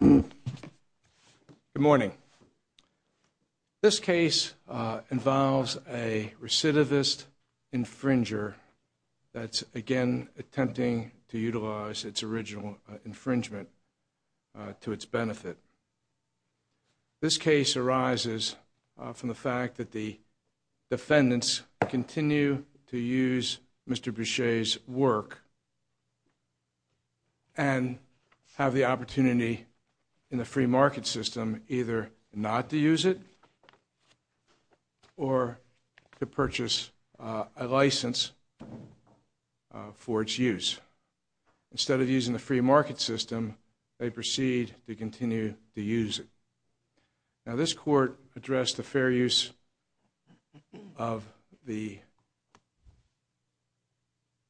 Good morning, this case involves a recidivist infringer that's again attempting to utilize its original infringement to its benefit. This case arises from the fact that the defendants continue to use Mr. Bouchat's work and have the opportunity in the free market system either not to use it or to purchase a license for its use. Instead of using the free market system, they proceed to continue to use it. Now this court addressed the fair use of the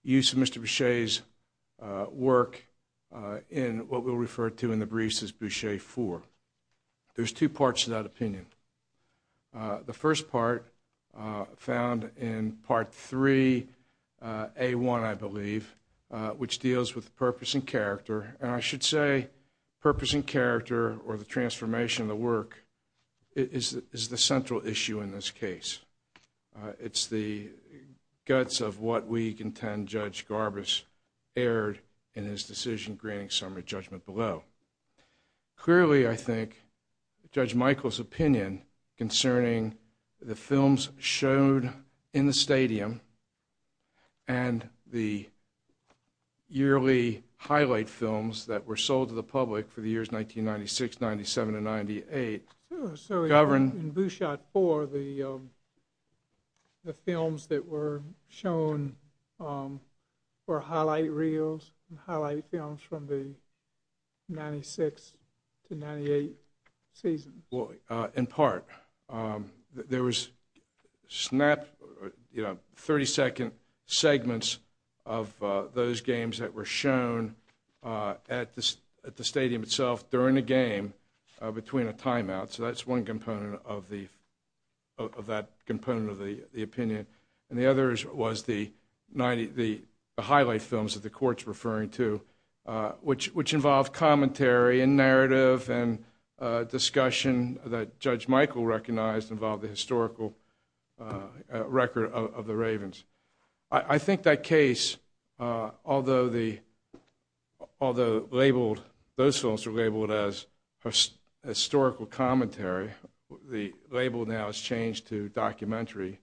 use of Mr. Bouchat's work in what we'll refer to in the briefs as Bouchat IV. There's two parts to that opinion. The first part found in Part 3A1, I believe, which deals with purpose and character. And I should say purpose and character or the transformation of the work is the central issue in this case. It's the guts of what we contend Judge Garbus erred in his decision granting summary judgment below. Clearly, I think Judge Michael's opinion concerning the films showed in the stadium and the yearly highlight films that were sold to the public for the years 1996, 97, and 98. So in Bouchat IV, the films that were shown were highlight reels and highlight films from the 1996 to 1998 seasons. In part, there was 30-second segments of those games that were shown at the stadium itself during the game between a timeout. So that's one component of that opinion. And the other was the highlight films that the court's referring to, which involved commentary and narrative and discussion that Judge Michael recognized involved the historical record of the Ravens. I think that case, although those films were labeled as historical commentary, the label now has changed to documentary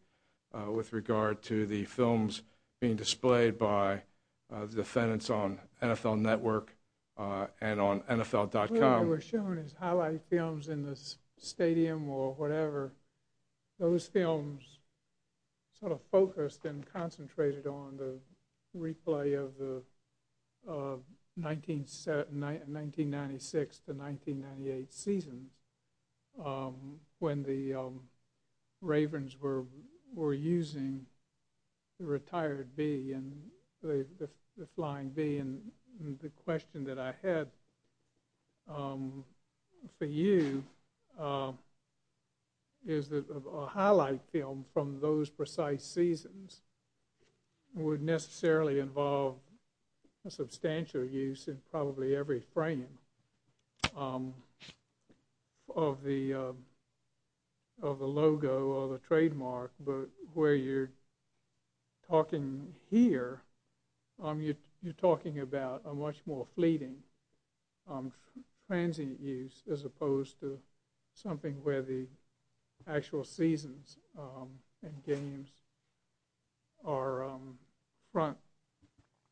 with regard to the films being displayed by defendants on NFL Network and on NFL.com. The films that were shown as highlight films in the stadium or whatever, those films sort of focused and concentrated on the replay of the 1996 to 1998 seasons when the Ravens were using the retired bee, the flying bee. The question that I had for you is that a highlight film from those precise seasons would necessarily involve a substantial use in probably every frame of the logo or the trademark. But where you're talking here, you're talking about a much more fleeting, transient use as opposed to something where the actual seasons and games are front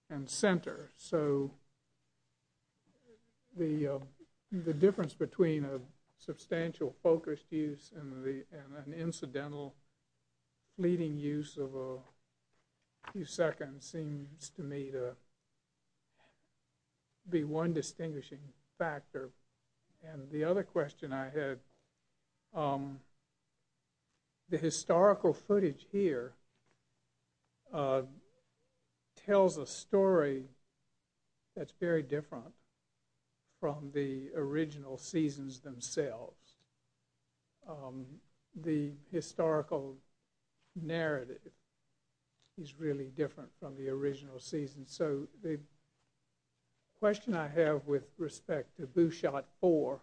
and center. So the difference between a substantial focused use and an incidental fleeting use of a few seconds seems to me to be one distinguishing factor. And the other question I had, the historical footage here tells a story that's very different from the original seasons themselves. The historical narrative is really different from the original seasons. So the question I have with respect to Boo Shot 4,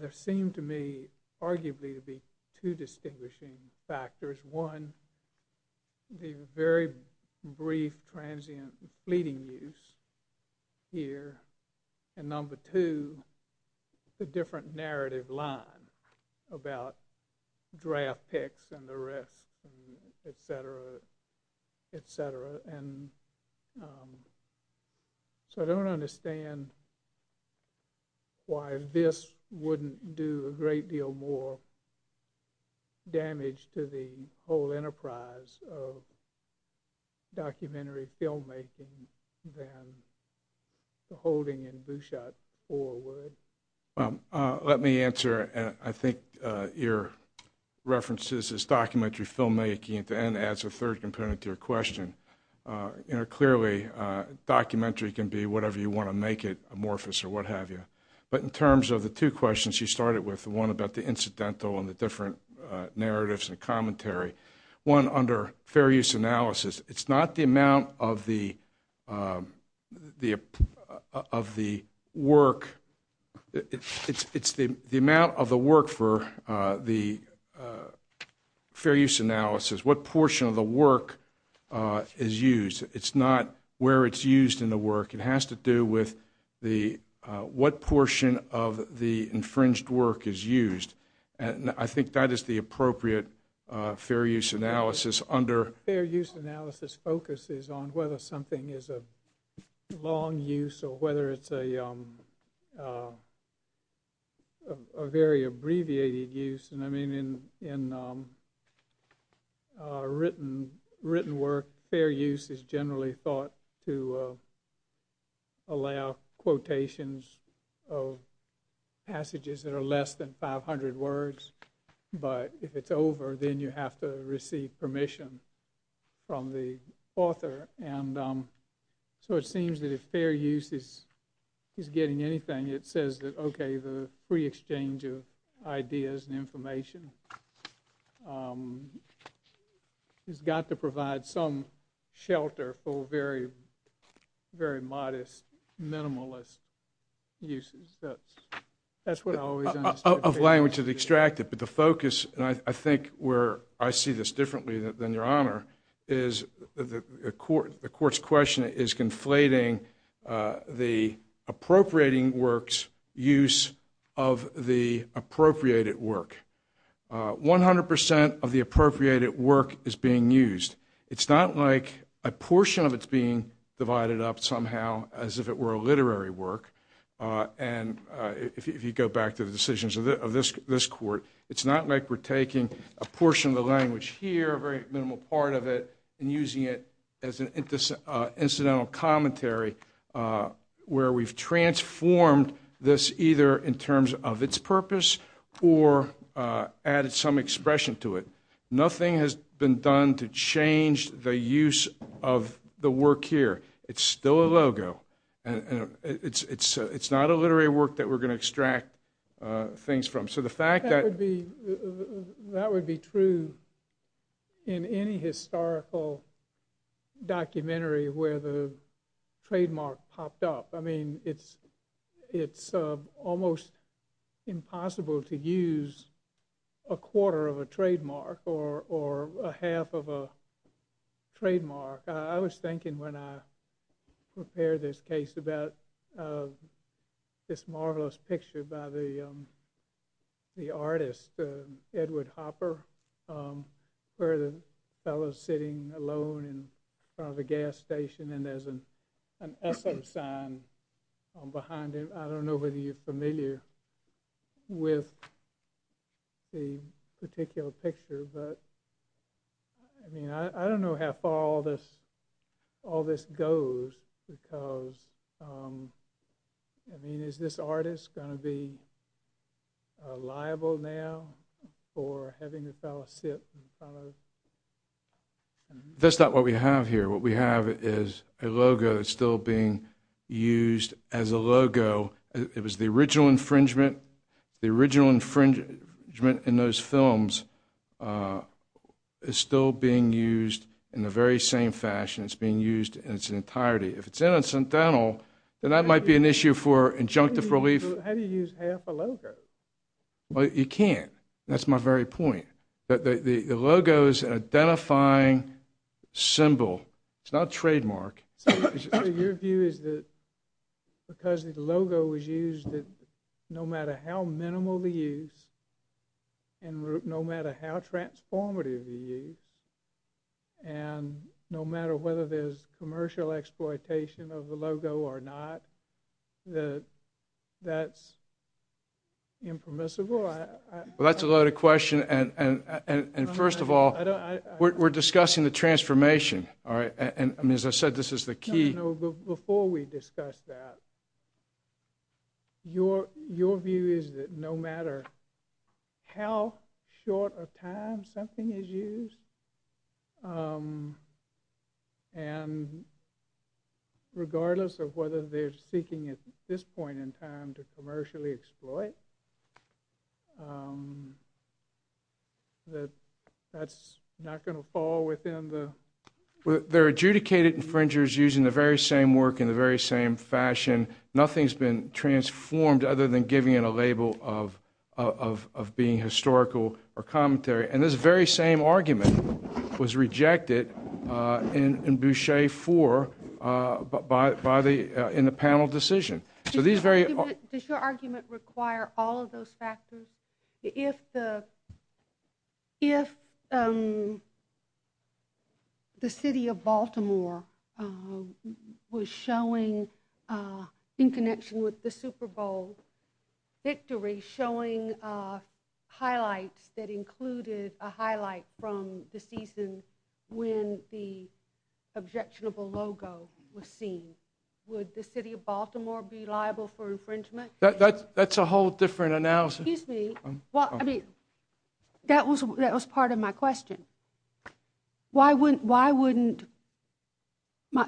there seem to me arguably to be two distinguishing factors. One, the very brief, transient, fleeting use here. And number two, the different narrative line about draft picks and the rest, et cetera, et cetera. And so I don't understand why this wouldn't do a great deal more damage to the whole enterprise of documentary filmmaking than the holding in Boo Shot 4 would. Let me answer, I think your references as documentary filmmaking at the end adds a third component to your question. Clearly, documentary can be whatever you want to make it, amorphous or what have you. But in terms of the two questions you started with, the one about the incidental and the different narratives and commentary, one under fair use analysis, it's not the amount of the work. It's the amount of the work for the fair use analysis, what portion of the work is used. It's not where it's used in the work. It has to do with what portion of the infringed work is used. And I think that is the appropriate fair use analysis under… Fair use is generally thought to allow quotations of passages that are less than 500 words. But if it's over, then you have to receive permission from the author. And so it seems that if fair use is getting anything, it says that, okay, the free exchange of ideas and information has got to provide some shelter for very modest, minimalist uses. That's what I always understood. Of language that's extracted. But the focus, and I think where I see this differently than Your Honor, is the court's question is conflating the appropriating work's use of the appropriated work. 100% of the appropriated work is being used. It's not like a portion of it's being divided up somehow as if it were a literary work. And if you go back to the decisions of this court, it's not like we're taking a portion of the language here, a very minimal part of it, and using it as an incidental commentary where we've transformed this either in terms of its purpose or added some expression to it. Nothing has been done to change the use of the work here. It's still a logo. It's not a literary work that we're going to extract things from. That would be true in any historical documentary where the trademark popped up. I mean, it's almost impossible to use a quarter of a trademark or a half of a trademark. I was thinking when I prepared this case about this marvelous picture by the artist, Edward Hopper, where the fellow's sitting alone in front of a gas station and there's an S.O. sign behind him. I don't know whether you're familiar with the particular picture, but I mean, I don't know how far all this goes, because, I mean, is this artist going to be liable now for having the fellow sit in front of... That's not what we have here. What we have is a logo that's still being used as a logo. It was the original infringement. The original infringement in those films is still being used in the very same fashion. It's being used in its entirety. If it's incidental, then that might be an issue for injunctive relief. How do you use half a logo? Well, you can't. That's my very point. The logo is an identifying symbol. It's not a trademark. So your view is that because the logo was used, that no matter how minimal the use and no matter how transformative the use and no matter whether there's commercial exploitation of the logo or not, that that's impermissible? Well, that's a loaded question. And first of all, we're discussing the transformation, all right? And as I said, this is the key. No, no, no. Before we discuss that, your view is that no matter how short a time something is used and regardless of whether they're seeking at this point in time to commercially exploit, that that's not going to fall within the... They're adjudicated infringers using the very same work in the very same fashion. Nothing's been transformed other than giving it a label of being historical or commentary. And this very same argument was rejected in Boucher 4 in the panel decision. Does your argument require all of those factors? If the city of Baltimore was showing, in connection with the Super Bowl victory, showing highlights that included a highlight from the season when the objectionable logo was seen, would the city of Baltimore be liable for infringement? That's a whole different analysis. Excuse me. Well, I mean, that was part of my question. Why wouldn't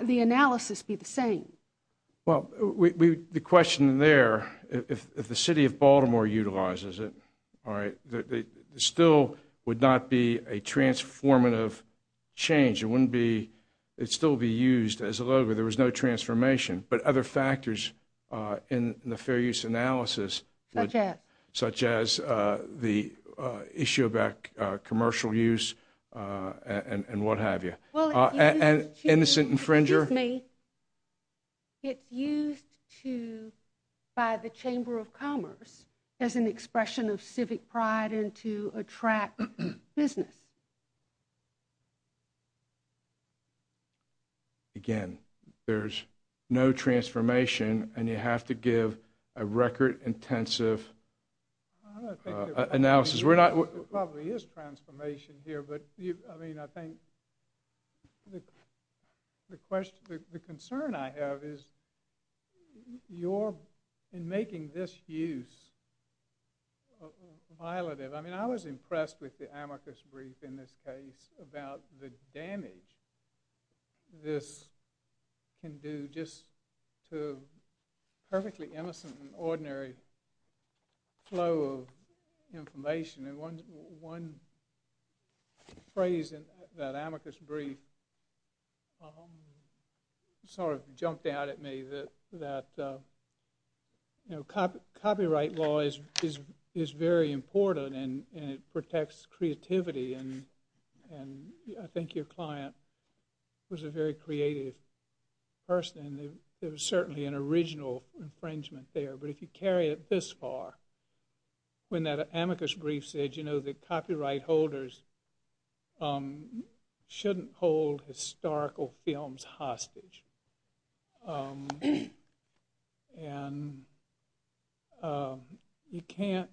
the analysis be the same? Well, the question there, if the city of Baltimore utilizes it, there still would not be a transformative change. It still would be used as a logo. There was no transformation. But other factors in the fair use analysis... Such as? Such as the issue about commercial use and what have you. Innocent infringer. Excuse me. It's used by the Chamber of Commerce as an expression of civic pride and to attract business. Again, there's no transformation, and you have to give a record-intensive analysis. There probably is transformation here, but I think the concern I have is you're making this use violative. I mean, I was impressed with the amicus brief in this case about the damage this can do to a perfectly innocent and ordinary flow of information. And one phrase in that amicus brief sort of jumped out at me, that copyright law is very important, and it protects creativity. And I think your client was a very creative person, and there was certainly an original infringement there. But if you carry it this far, when that amicus brief said, you know, that copyright holders shouldn't hold historical films hostage. And you can't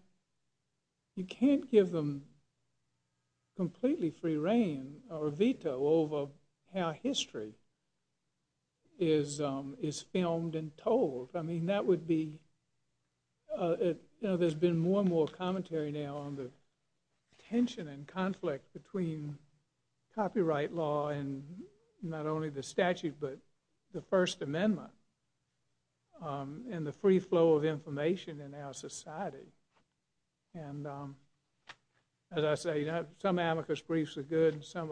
give them completely free reign or veto over how history is filmed and told. I mean, that would be... You know, there's been more and more commentary now on the tension and conflict between copyright law and not only the statute but the First Amendment and the free flow of information in our society. And as I say, some amicus briefs are good and some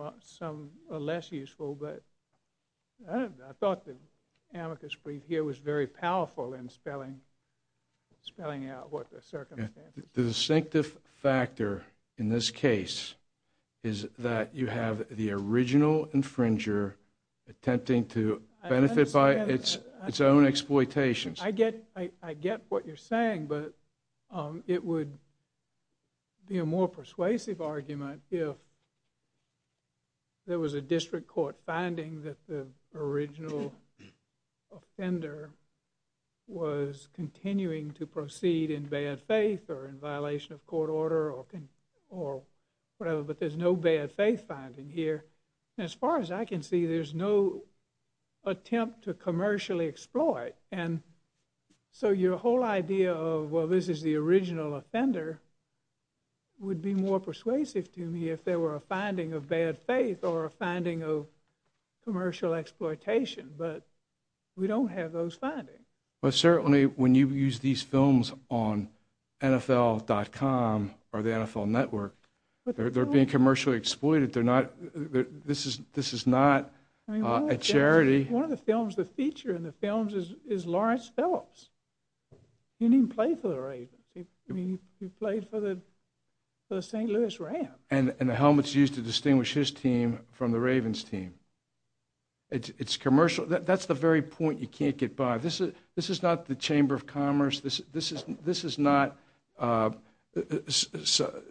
are less useful, but I thought the amicus brief here was very powerful in spelling out what the circumstances were. The distinctive factor in this case is that you have the original infringer attempting to benefit by its own exploitations. I get what you're saying, but it would be a more persuasive argument if there was a district court finding that the original offender was continuing to proceed in bad faith or in violation of court order or whatever, but there's no bad faith finding here. And as far as I can see, there's no attempt to commercially exploit. And so your whole idea of, well, this is the original offender, would be more persuasive to me if there were a finding of bad faith or a finding of commercial exploitation. But we don't have those findings. But certainly when you use these films on NFL.com or the NFL Network, they're being commercially exploited. This is not a charity. One of the films, the feature in the films is Lawrence Phillips. He didn't even play for the Ravens. He played for the St. Louis Rams. And the helmet's used to distinguish his team from the Ravens' team. It's commercial. That's the very point you can't get by. This is not the Chamber of Commerce. This is not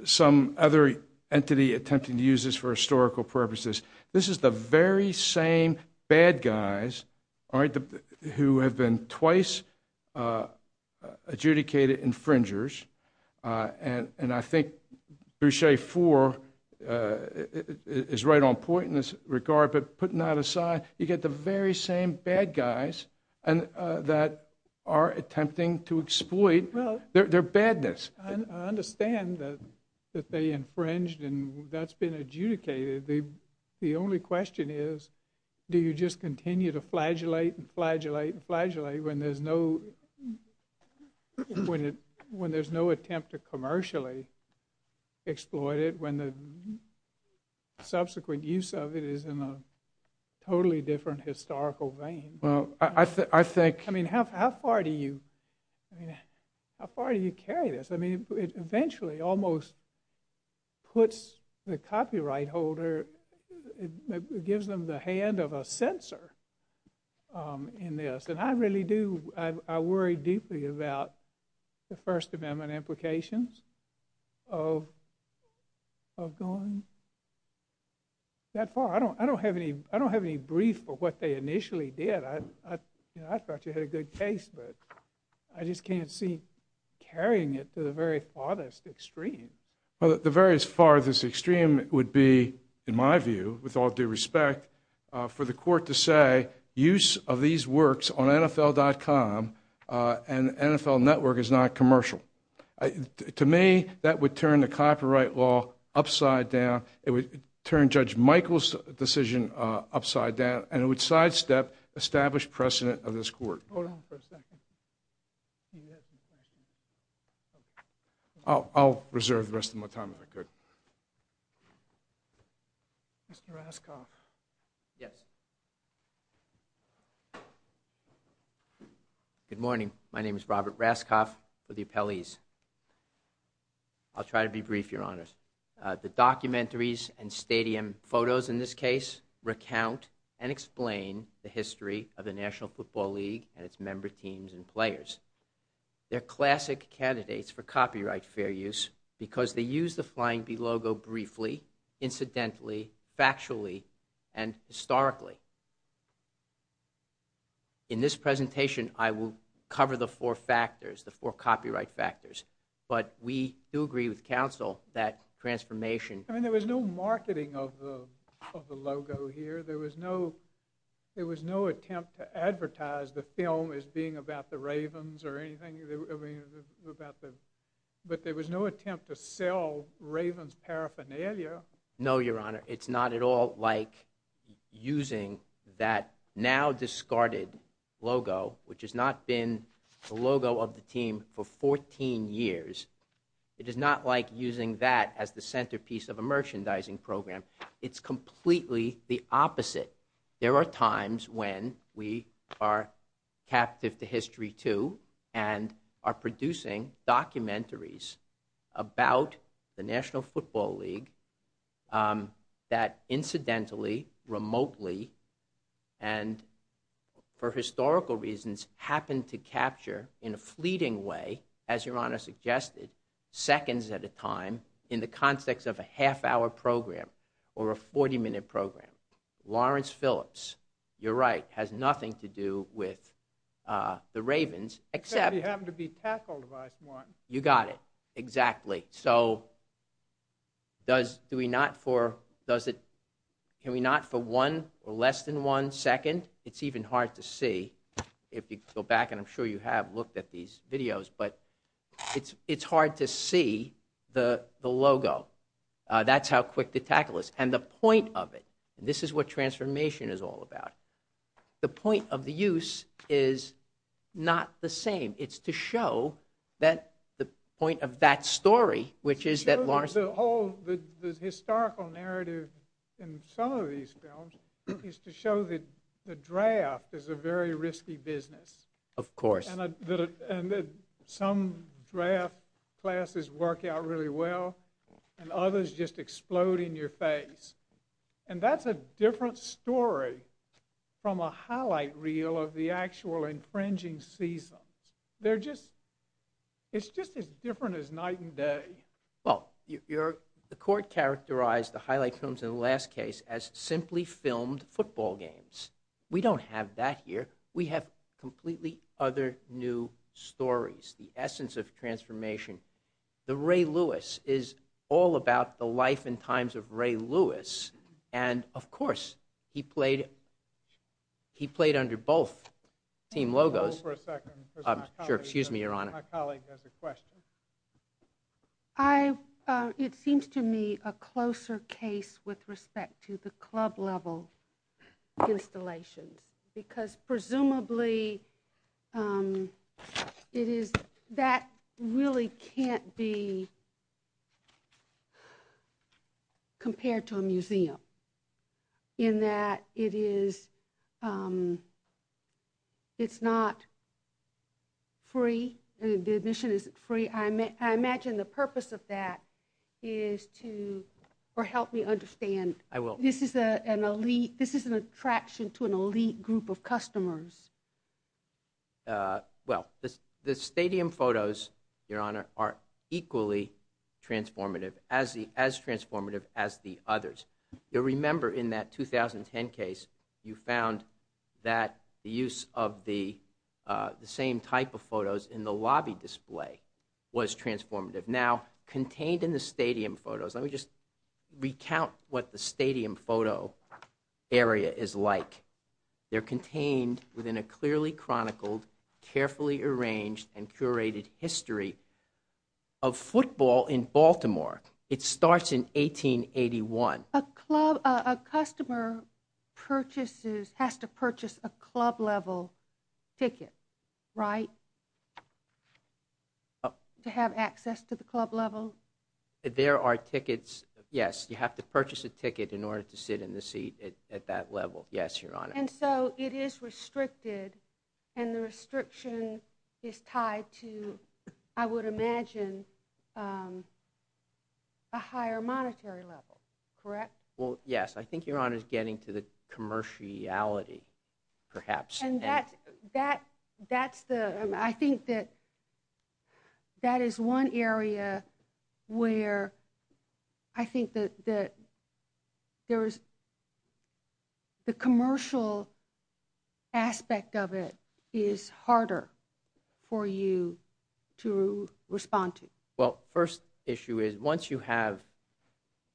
some other entity attempting to use this for historical purposes. This is the very same bad guys who have been twice adjudicated infringers. And I think Boucher Four is right on point in this regard, but putting that aside, you get the very same bad guys that are attempting to exploit their badness. I understand that they infringed and that's been adjudicated. The only question is, do you just continue to flagellate and flagellate and flagellate when there's no attempt to commercially exploit it, when the subsequent use of it is in a totally different historical vein? I mean, how far do you carry this? I mean, it eventually almost puts the copyright holder, it gives them the hand of a censor in this. And I really do, I worry deeply about the First Amendment implications of going that far. I don't have any brief for what they initially did. I thought you had a good case, but I just can't see carrying it to the very farthest extreme. The very farthest extreme would be, in my view, with all due respect, for the court to say, use of these works on NFL.com and NFL Network is not commercial. To me, that would turn the copyright law upside down, it would turn Judge Michael's decision upside down, and it would sidestep established precedent of this court. Hold on for a second. I'll reserve the rest of my time if I could. Mr. Raskoff. Yes. Good morning. My name is Robert Raskoff with the appellees. I'll try to be brief, Your Honors. The documentaries and stadium photos in this case recount and explain the history of the National Football League and its member teams and players. They're classic candidates for copyright fair use because they use the Flying B logo briefly, incidentally, factually, and historically. In this presentation, I will cover the four factors, the four copyright factors. But we do agree with counsel that transformation... I mean, there was no marketing of the logo here. There was no attempt to advertise the film as being about the Ravens or anything. But there was no attempt to sell Ravens paraphernalia. No, Your Honor. It's not at all like using that now-discarded logo, which has not been the logo of the team for 14 years, it is not like using that as the centerpiece of a merchandising program. It's completely the opposite. There are times when we are captive to history, too, and are producing documentaries about the National Football League that incidentally, remotely, and for historical reasons, happen to capture in a fleeting way, as Your Honor suggested, seconds at a time in the context of a half-hour program or a 40-minute program. Lawrence Phillips, you're right, has nothing to do with the Ravens, except... Except they happen to be tackled by someone. You got it. Exactly. So, can we not for one or less than one second? It's even hard to see. If you go back, and I'm sure you have looked at these videos, but it's hard to see the logo. That's how quick the tackle is. And the point of it, and this is what transformation is all about, the point of the use is not the same. It's to show the point of that story, which is that Lawrence... The historical narrative in some of these films is to show that the draft is a very risky business. Of course. And that some draft classes work out really well, and others just explode in your face. And that's a different story from a highlight reel of the actual infringing seasons. They're just... It's just as different as night and day. Well, the court characterized the highlight films in the last case as simply filmed football games. We don't have that here. We have completely other new stories, the essence of transformation. The Ray Lewis is all about the life and times of Ray Lewis, and, of course, he played under both team logos. Hold for a second. Sure, excuse me, Your Honor. My colleague has a question. I... It seems to me a closer case with respect to the club-level installations, because presumably it is... It really can't be compared to a museum, in that it is... It's not free. The admission isn't free. I imagine the purpose of that is to... Or help me understand. I will. This is an attraction to an elite group of customers. Well, the stadium photos, Your Honor, are equally transformative, as transformative as the others. You'll remember in that 2010 case, you found that the use of the same type of photos in the lobby display was transformative. Now, contained in the stadium photos... Let me just recount what the stadium photo area is like. They're contained within a clearly chronicled, carefully arranged, and curated history of football in Baltimore. It starts in 1881. A club... A customer purchases... Has to purchase a club-level ticket, right? To have access to the club level? There are tickets... Yes, you have to purchase a ticket in order to sit in the seat at that level. Yes, Your Honor. And so it is restricted, and the restriction is tied to, I would imagine, a higher monetary level, correct? Well, yes. I think, Your Honor, is getting to the commerciality, perhaps. And that's the... I think that that is one area where I think that there is... the commercial aspect of it is harder for you to respond to. Well, first issue is, once you have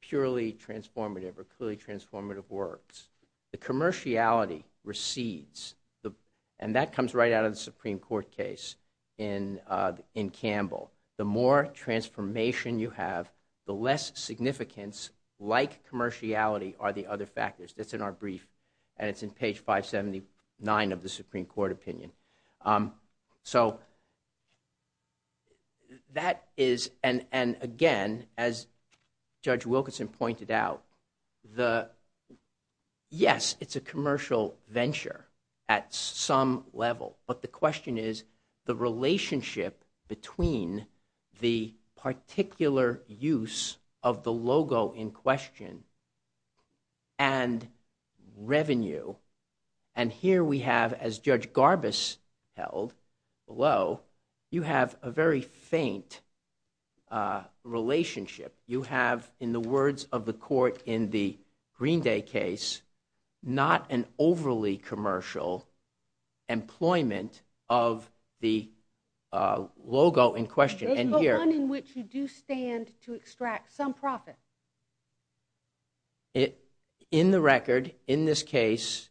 purely transformative or clearly transformative works, the commerciality recedes. And that comes right out of the Supreme Court case in Campbell. The more transformation you have, the less significance, like commerciality, are the other factors. That's in our brief, and it's in page 579 of the Supreme Court opinion. So that is... And again, as Judge Wilkinson pointed out, the... Yes, it's a commercial venture at some level. But the question is, the relationship between the particular use of the logo in question and revenue. And here we have, as Judge Garbus held below, you have a very faint relationship. You have, in the words of the court in the Green Day case, not an overly commercial employment of the logo in question. There's no one in which you do stand to extract some profit. In the record, in this case,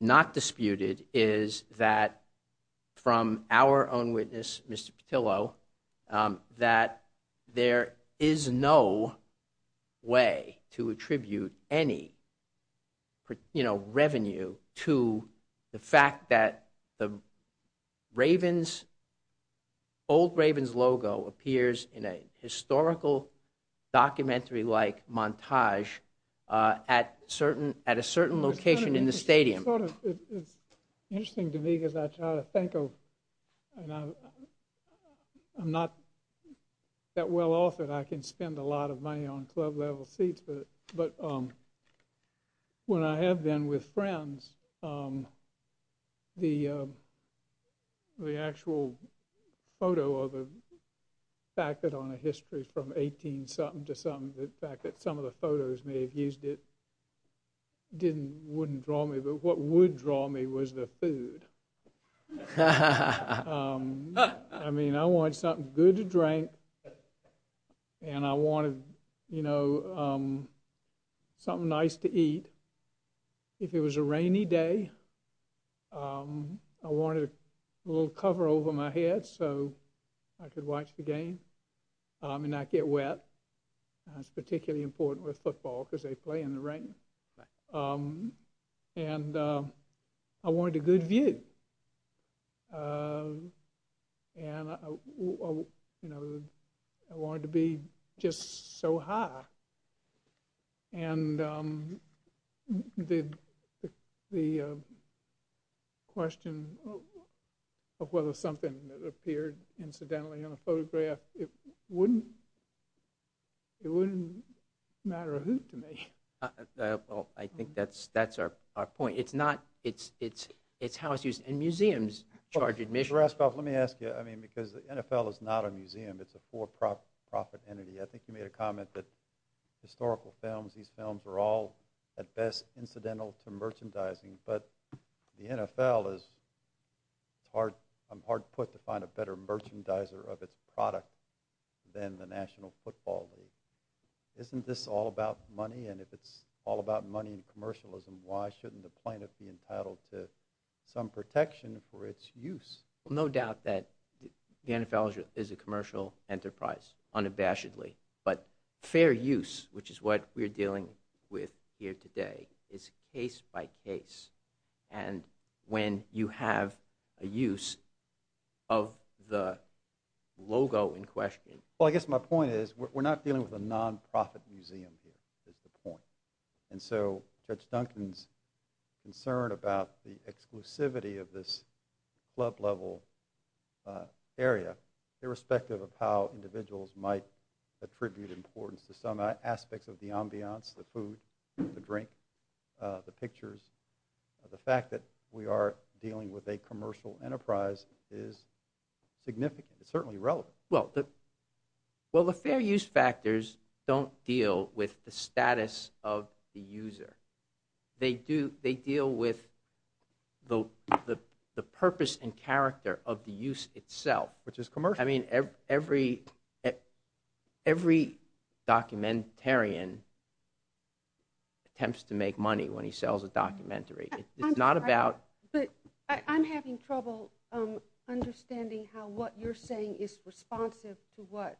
not disputed is that, from our own witness, Mr. Petillo, that there is no way to attribute any, you know, revenue to the fact that the Ravens... Old Ravens logo appears in a historical documentary-like montage at a certain location in the stadium. Well, it's interesting to me because I try to think of... I'm not that well-authored. I can spend a lot of money on club-level seats, but when I have been with friends, the actual photo or the fact that on a history from 18-something to something, the fact that some of the photos may have used it didn't, wouldn't draw me, but what would draw me was the food. I mean, I wanted something good to drink, and I wanted, you know, something nice to eat. If it was a rainy day, I wanted a little cover over my head so I could watch the game and not get wet. That's particularly important with football because they play in the rain. And I wanted a good view. And, you know, I wanted to be just so high. And the question of whether something that appeared incidentally in a photograph, it wouldn't matter a hoot to me. Well, I think that's our point. It's not, it's how it's used. And museums charge admission. Raskov, let me ask you, I mean, because the NFL is not a museum. It's a for-profit entity. I think you made a comment that historical films, these films are all at best incidental to merchandising, but the NFL is hard, I'm hard put to find a better merchandiser of its product than the National Football League. Isn't this all about money? And if it's all about money and commercialism, why shouldn't the plaintiff be entitled to some protection for its use? No doubt that the NFL is a commercial enterprise, unabashedly. But fair use, which is what we're dealing with here today, is case by case. And when you have a use of the logo in question... Well, I guess my point is, we're not dealing with a non-profit museum here, is the point. And so Judge Duncan's concern about the exclusivity of this club-level area, irrespective of how individuals might attribute importance to some aspects of the ambiance, the food, the drink, the pictures, the fact that we are dealing with a commercial enterprise is significant. It's certainly relevant. Well, the fair use factors don't deal with the status of the user. They deal with the purpose and character of the use itself. Which is commercial. I mean, every documentarian attempts to make money when he sells a documentary. It's not about... But I'm having trouble understanding how what you're saying is responsive to what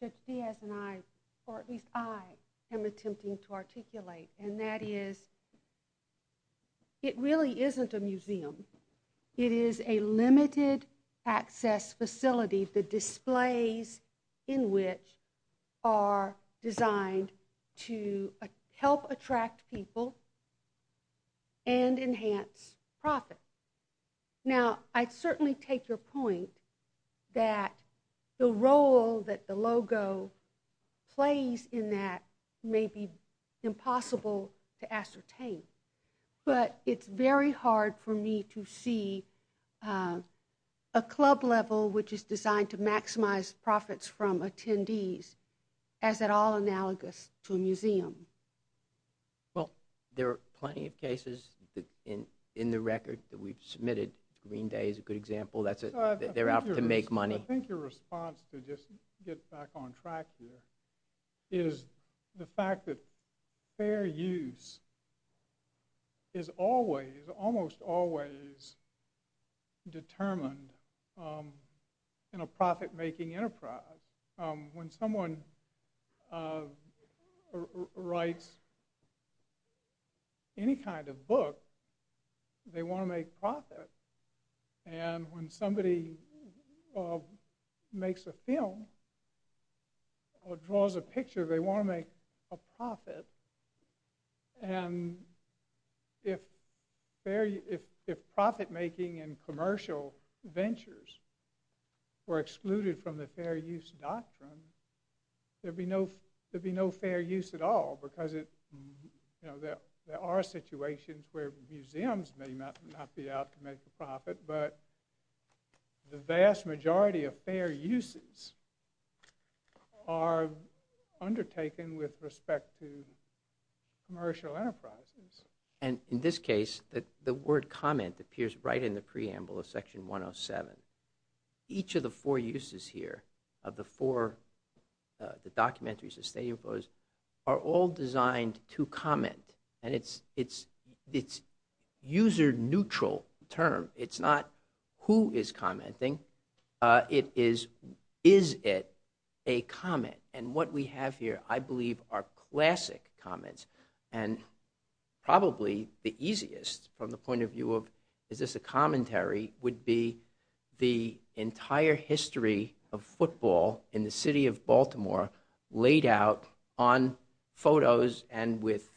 Judge Diaz and I, or at least I, am attempting to articulate. And that is, it really isn't a museum. It is a limited-access facility the displays in which are designed to help attract people and enhance profit. Now, I'd certainly take your point that the role that the logo plays in that may be impossible to ascertain. But it's very hard for me to see a club-level which is designed to maximize profits from attendees as at all analogous to a museum. Well, there are plenty of cases in the record that we've submitted. Green Day is a good example. They're out to make money. I think your response, to just get back on track here, is the fact that fair use is always, almost always determined in a profit-making enterprise. When someone writes any kind of book, they want to make profit. And when somebody makes a film and if profit-making and commercial ventures were excluded from the fair use doctrine, there'd be no fair use at all because there are situations where museums may not be out to make a profit, but the vast majority of fair uses are undertaken with respect to commercial enterprises. And in this case, the word comment appears right in the preamble of Section 107. Each of the four uses here, of the four documentaries, the stadium photos, are all designed to comment. And it's user-neutral term. It's not who is commenting. It is, is it a comment? And what we have here, I believe, are classic comments. And probably the easiest, from the point of view of, is this a commentary, would be the entire history of football in the city of Baltimore laid out on photos and with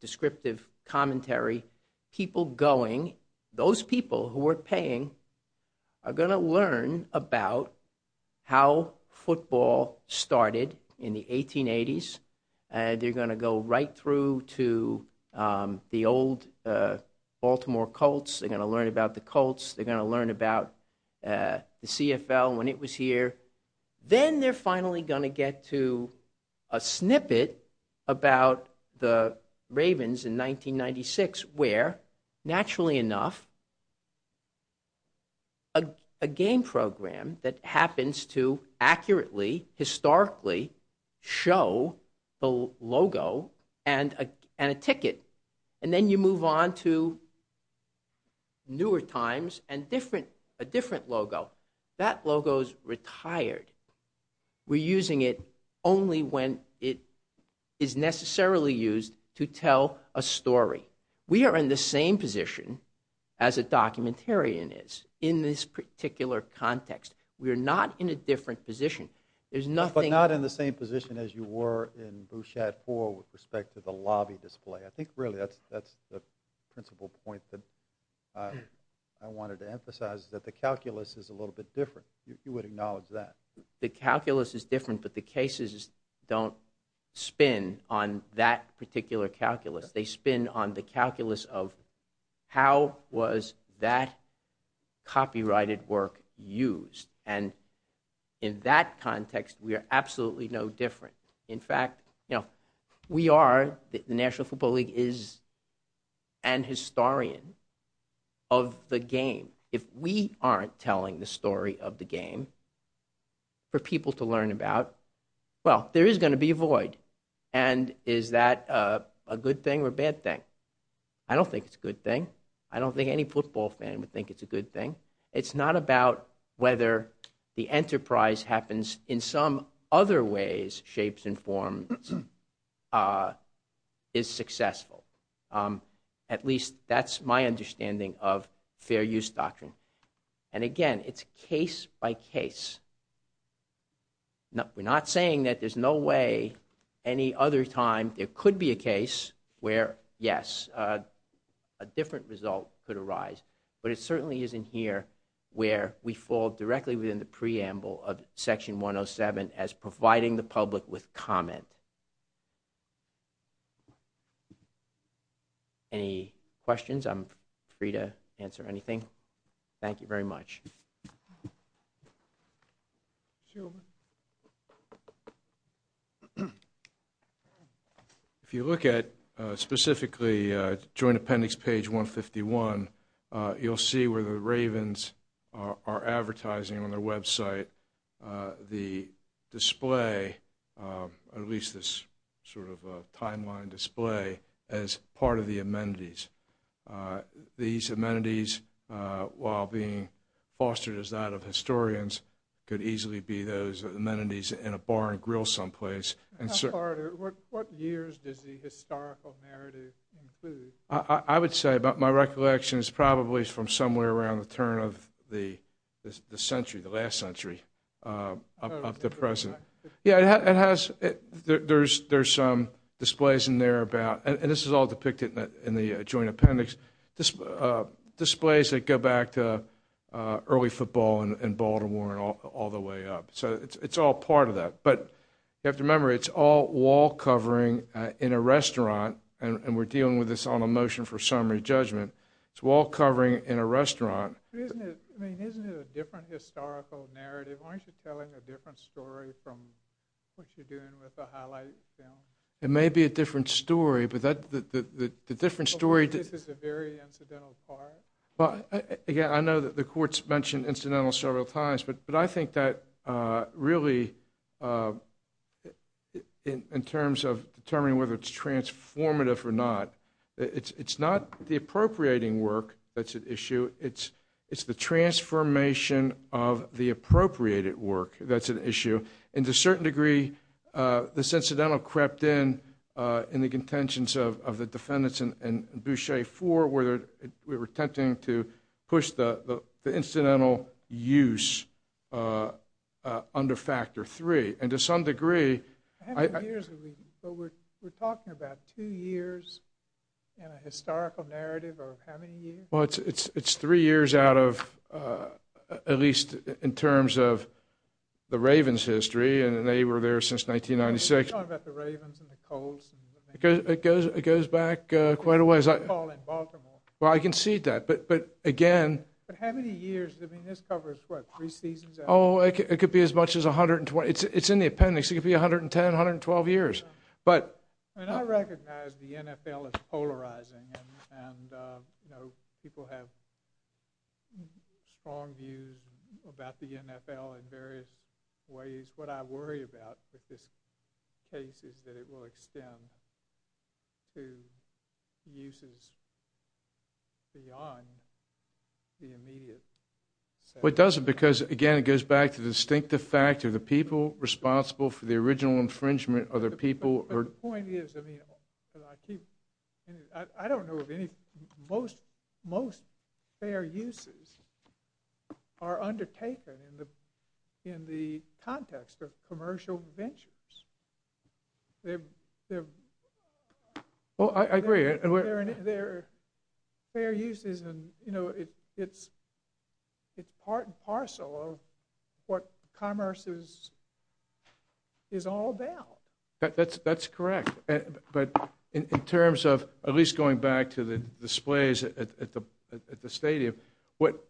descriptive commentary. People going, those people who are paying, are going to learn about how football started in the 1880s, and they're going to go right through to the old Baltimore Colts. They're going to learn about the Colts. They're going to learn about the CFL when it was here. Then they're finally going to get to a snippet about the Ravens in 1996, where, naturally enough, a game program that happens to accurately, historically, show the logo and a ticket. And then you move on to newer times and a different logo. That logo is retired. We're using it only when it is necessarily used to tell a story. We are in the same position as a documentarian is in this particular context. We are not in a different position. There's nothing... But not in the same position as you were in Bouchat 4 with respect to the lobby display. I think, really, that's the principal point that I wanted to emphasize, that the calculus is a little bit different. You would acknowledge that. The calculus is different, but the cases don't spin on that particular calculus. They spin on the calculus of, how was that copyrighted work used? And in that context, we are absolutely no different. In fact, you know, we are... The National Football League is an historian of the game. If we aren't telling the story of the game for people to learn about, well, there is going to be a void. And is that a good thing or a bad thing? I don't think it's a good thing. I don't think any football fan would think it's a good thing. It's not about whether the enterprise happens in some other ways, shapes, and forms is successful. At least that's my understanding of fair use doctrine. And again, it's case by case. We're not saying that there's no way any other time there could be a case where, yes, a different result could arise. But it certainly isn't here where we fall directly within the preamble of Section 107 as providing the public with comment. Any questions? I'm free to answer anything. Thank you very much. If you look at specifically Joint Appendix page 151, you'll see where the Ravens are advertising on their website the display, at least this sort of timeline display, as part of the amenities. These amenities, while being fostered as that of historians, could easily be those amenities in a bar and grill someplace. What years does the historical narrative include? I would say my recollection is probably from somewhere around the turn of the century, the last century, up to present. Yeah, there's some displays in there about, and this is all depicted in the Joint Appendix, displays that go back to early football and Baltimore and all the way up. So it's all part of that. But you have to remember, it's all wall covering in a restaurant, and we're dealing with this on a motion for summary judgment. It's wall covering in a restaurant. Isn't it a different historical narrative? Aren't you telling a different story from what you're doing with the highlight film? It may be a different story, but the different story... This is a very incidental part. Yeah, I know that the courts mentioned incidental several times, but I think that really, in terms of determining whether it's transformative or not, it's not the appropriating work that's at issue, it's the transformation of the appropriated work that's at issue. And to a certain degree, this incidental crept in in the contentions of the defendants in Boucher 4, where we were attempting to push the incidental use under Factor 3. And to some degree... But we're talking about two years in a historical narrative of how many years? Well, it's three years out of, at least in terms of the Ravens' history, and they were there since 1996. You're talking about the Ravens and the Colts... It goes back quite a ways. ...in Baltimore. Well, I can see that, but again... But how many years? I mean, this covers, what, three seasons? Oh, it could be as much as 120... It's in the appendix. It could be 110, 112 years. But... I mean, I recognize the NFL is polarizing, and, you know, people have strong views about the NFL in various ways. What I worry about with this case is that it will extend to uses beyond the immediate... Well, it doesn't, because, again, it goes back to the distinctive fact of the people responsible for the original infringement are the people who... But the point is, I mean, I keep... I don't know of any... Most fair uses are undertaken in the context of commercial ventures. They're... Well, I agree. They're fair uses, and, you know, it's part and parcel of what commerce is all about. That's correct. But in terms of, at least going back to the displays at the stadium, what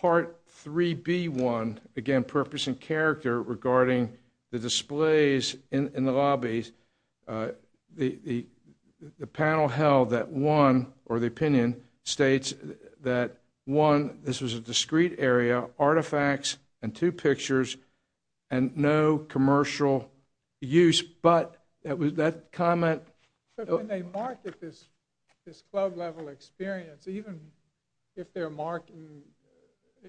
Part 3B1, again, purpose and character regarding the displays in the lobbies, the panel held that one, or the opinion, states that, one, this was a discreet area, artifacts, and two pictures, and no commercial use. But that comment... But when they market this club-level experience, even if they're marketing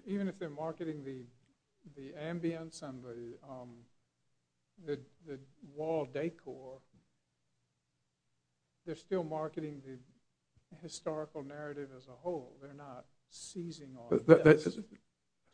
the ambience and the wall decor, they're still marketing the historical narrative as a whole. They're not seizing on this to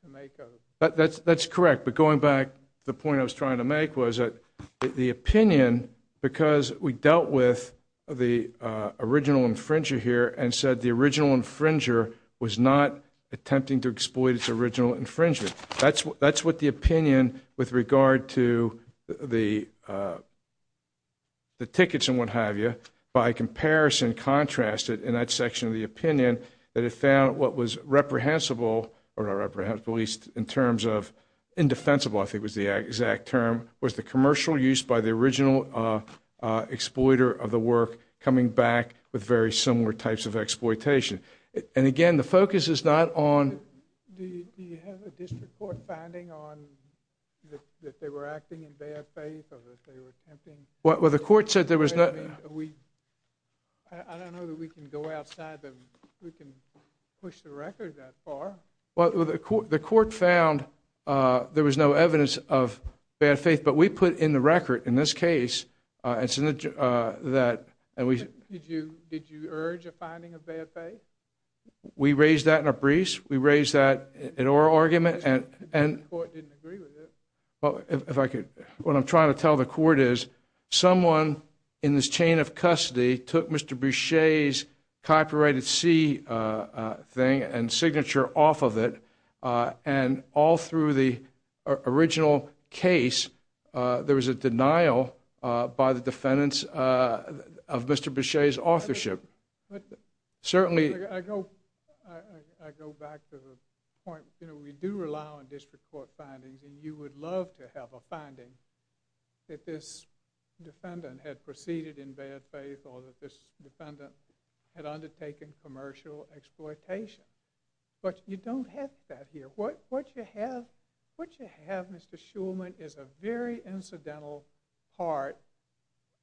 make a... That's correct. But going back, the point I was trying to make was that the opinion, because we dealt with the original infringer here and said the original infringer was not attempting to exploit its original infringement. That's what the opinion with regard to the... the tickets and what have you, by comparison contrasted in that section of the opinion that it found what was reprehensible, or at least in terms of indefensible, I think was the exact term, was the commercial use by the original exploiter of the work coming back with very similar types of exploitation. And again, the focus is not on... Do you have a district court finding that they were acting in bad faith or that they were attempting... Well, the court said there was no... I don't know that we can go outside that we can push the record that far. Well, the court found there was no evidence of bad faith, but we put in the record in this case... Did you urge a finding of bad faith? We raised that in a briefs. We raised that in oral argument. The court didn't agree with it. Well, if I could... What I'm trying to tell the court is someone in this chain of custody took Mr. Boucher's copyrighted C thing and signature off of it, and all through the original case, there was a denial by the defendants of Mr. Boucher's authorship. Certainly... I go back to the point. We do rely on district court findings, and you would love to have a finding that this defendant had proceeded in bad faith or that this defendant had undertaken commercial exploitation, but you don't have that here. What you have, Mr. Shulman, is a very incidental part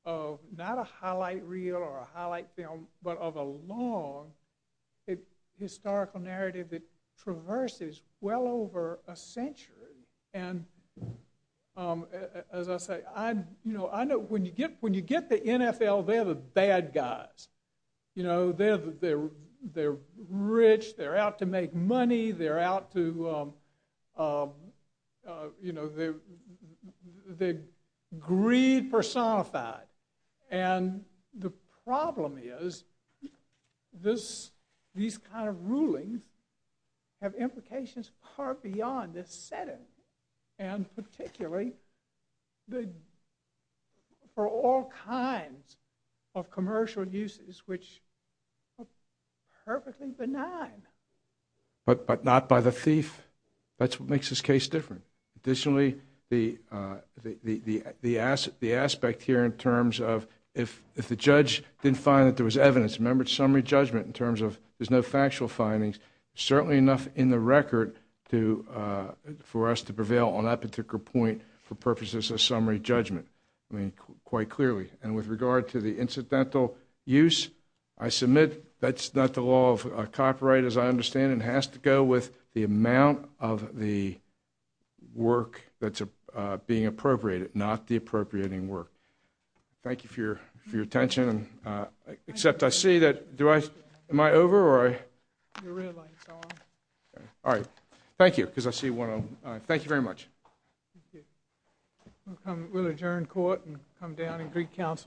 of not a highlight reel or a highlight film, but of a long historical narrative that traverses well over a century. And as I say, I know when you get the NFL, they're the bad guys. You know, they're rich. They're out to make money. They're out to... You know, they're greed personified. And the problem is these kind of rulings have implications far beyond this setting, and particularly for all kinds of commercial uses which are perfectly benign. But not by the thief. That's what makes this case different. Additionally, the aspect here in terms of if the judge didn't find that there was evidence, remember, it's summary judgment in terms of there's no factual findings, certainly enough in the record for us to prevail on that particular point for purposes of summary judgment, I mean, quite clearly. And with regard to the incidental use, I submit that's not the law of copyright, as I understand it. It has to go with the amount of the work that's being appropriated, not the appropriating work. Thank you for your attention. Except I see that... Am I over? All right. Thank you, because I see one... Thank you very much. We'll adjourn court and come down and greet counsel.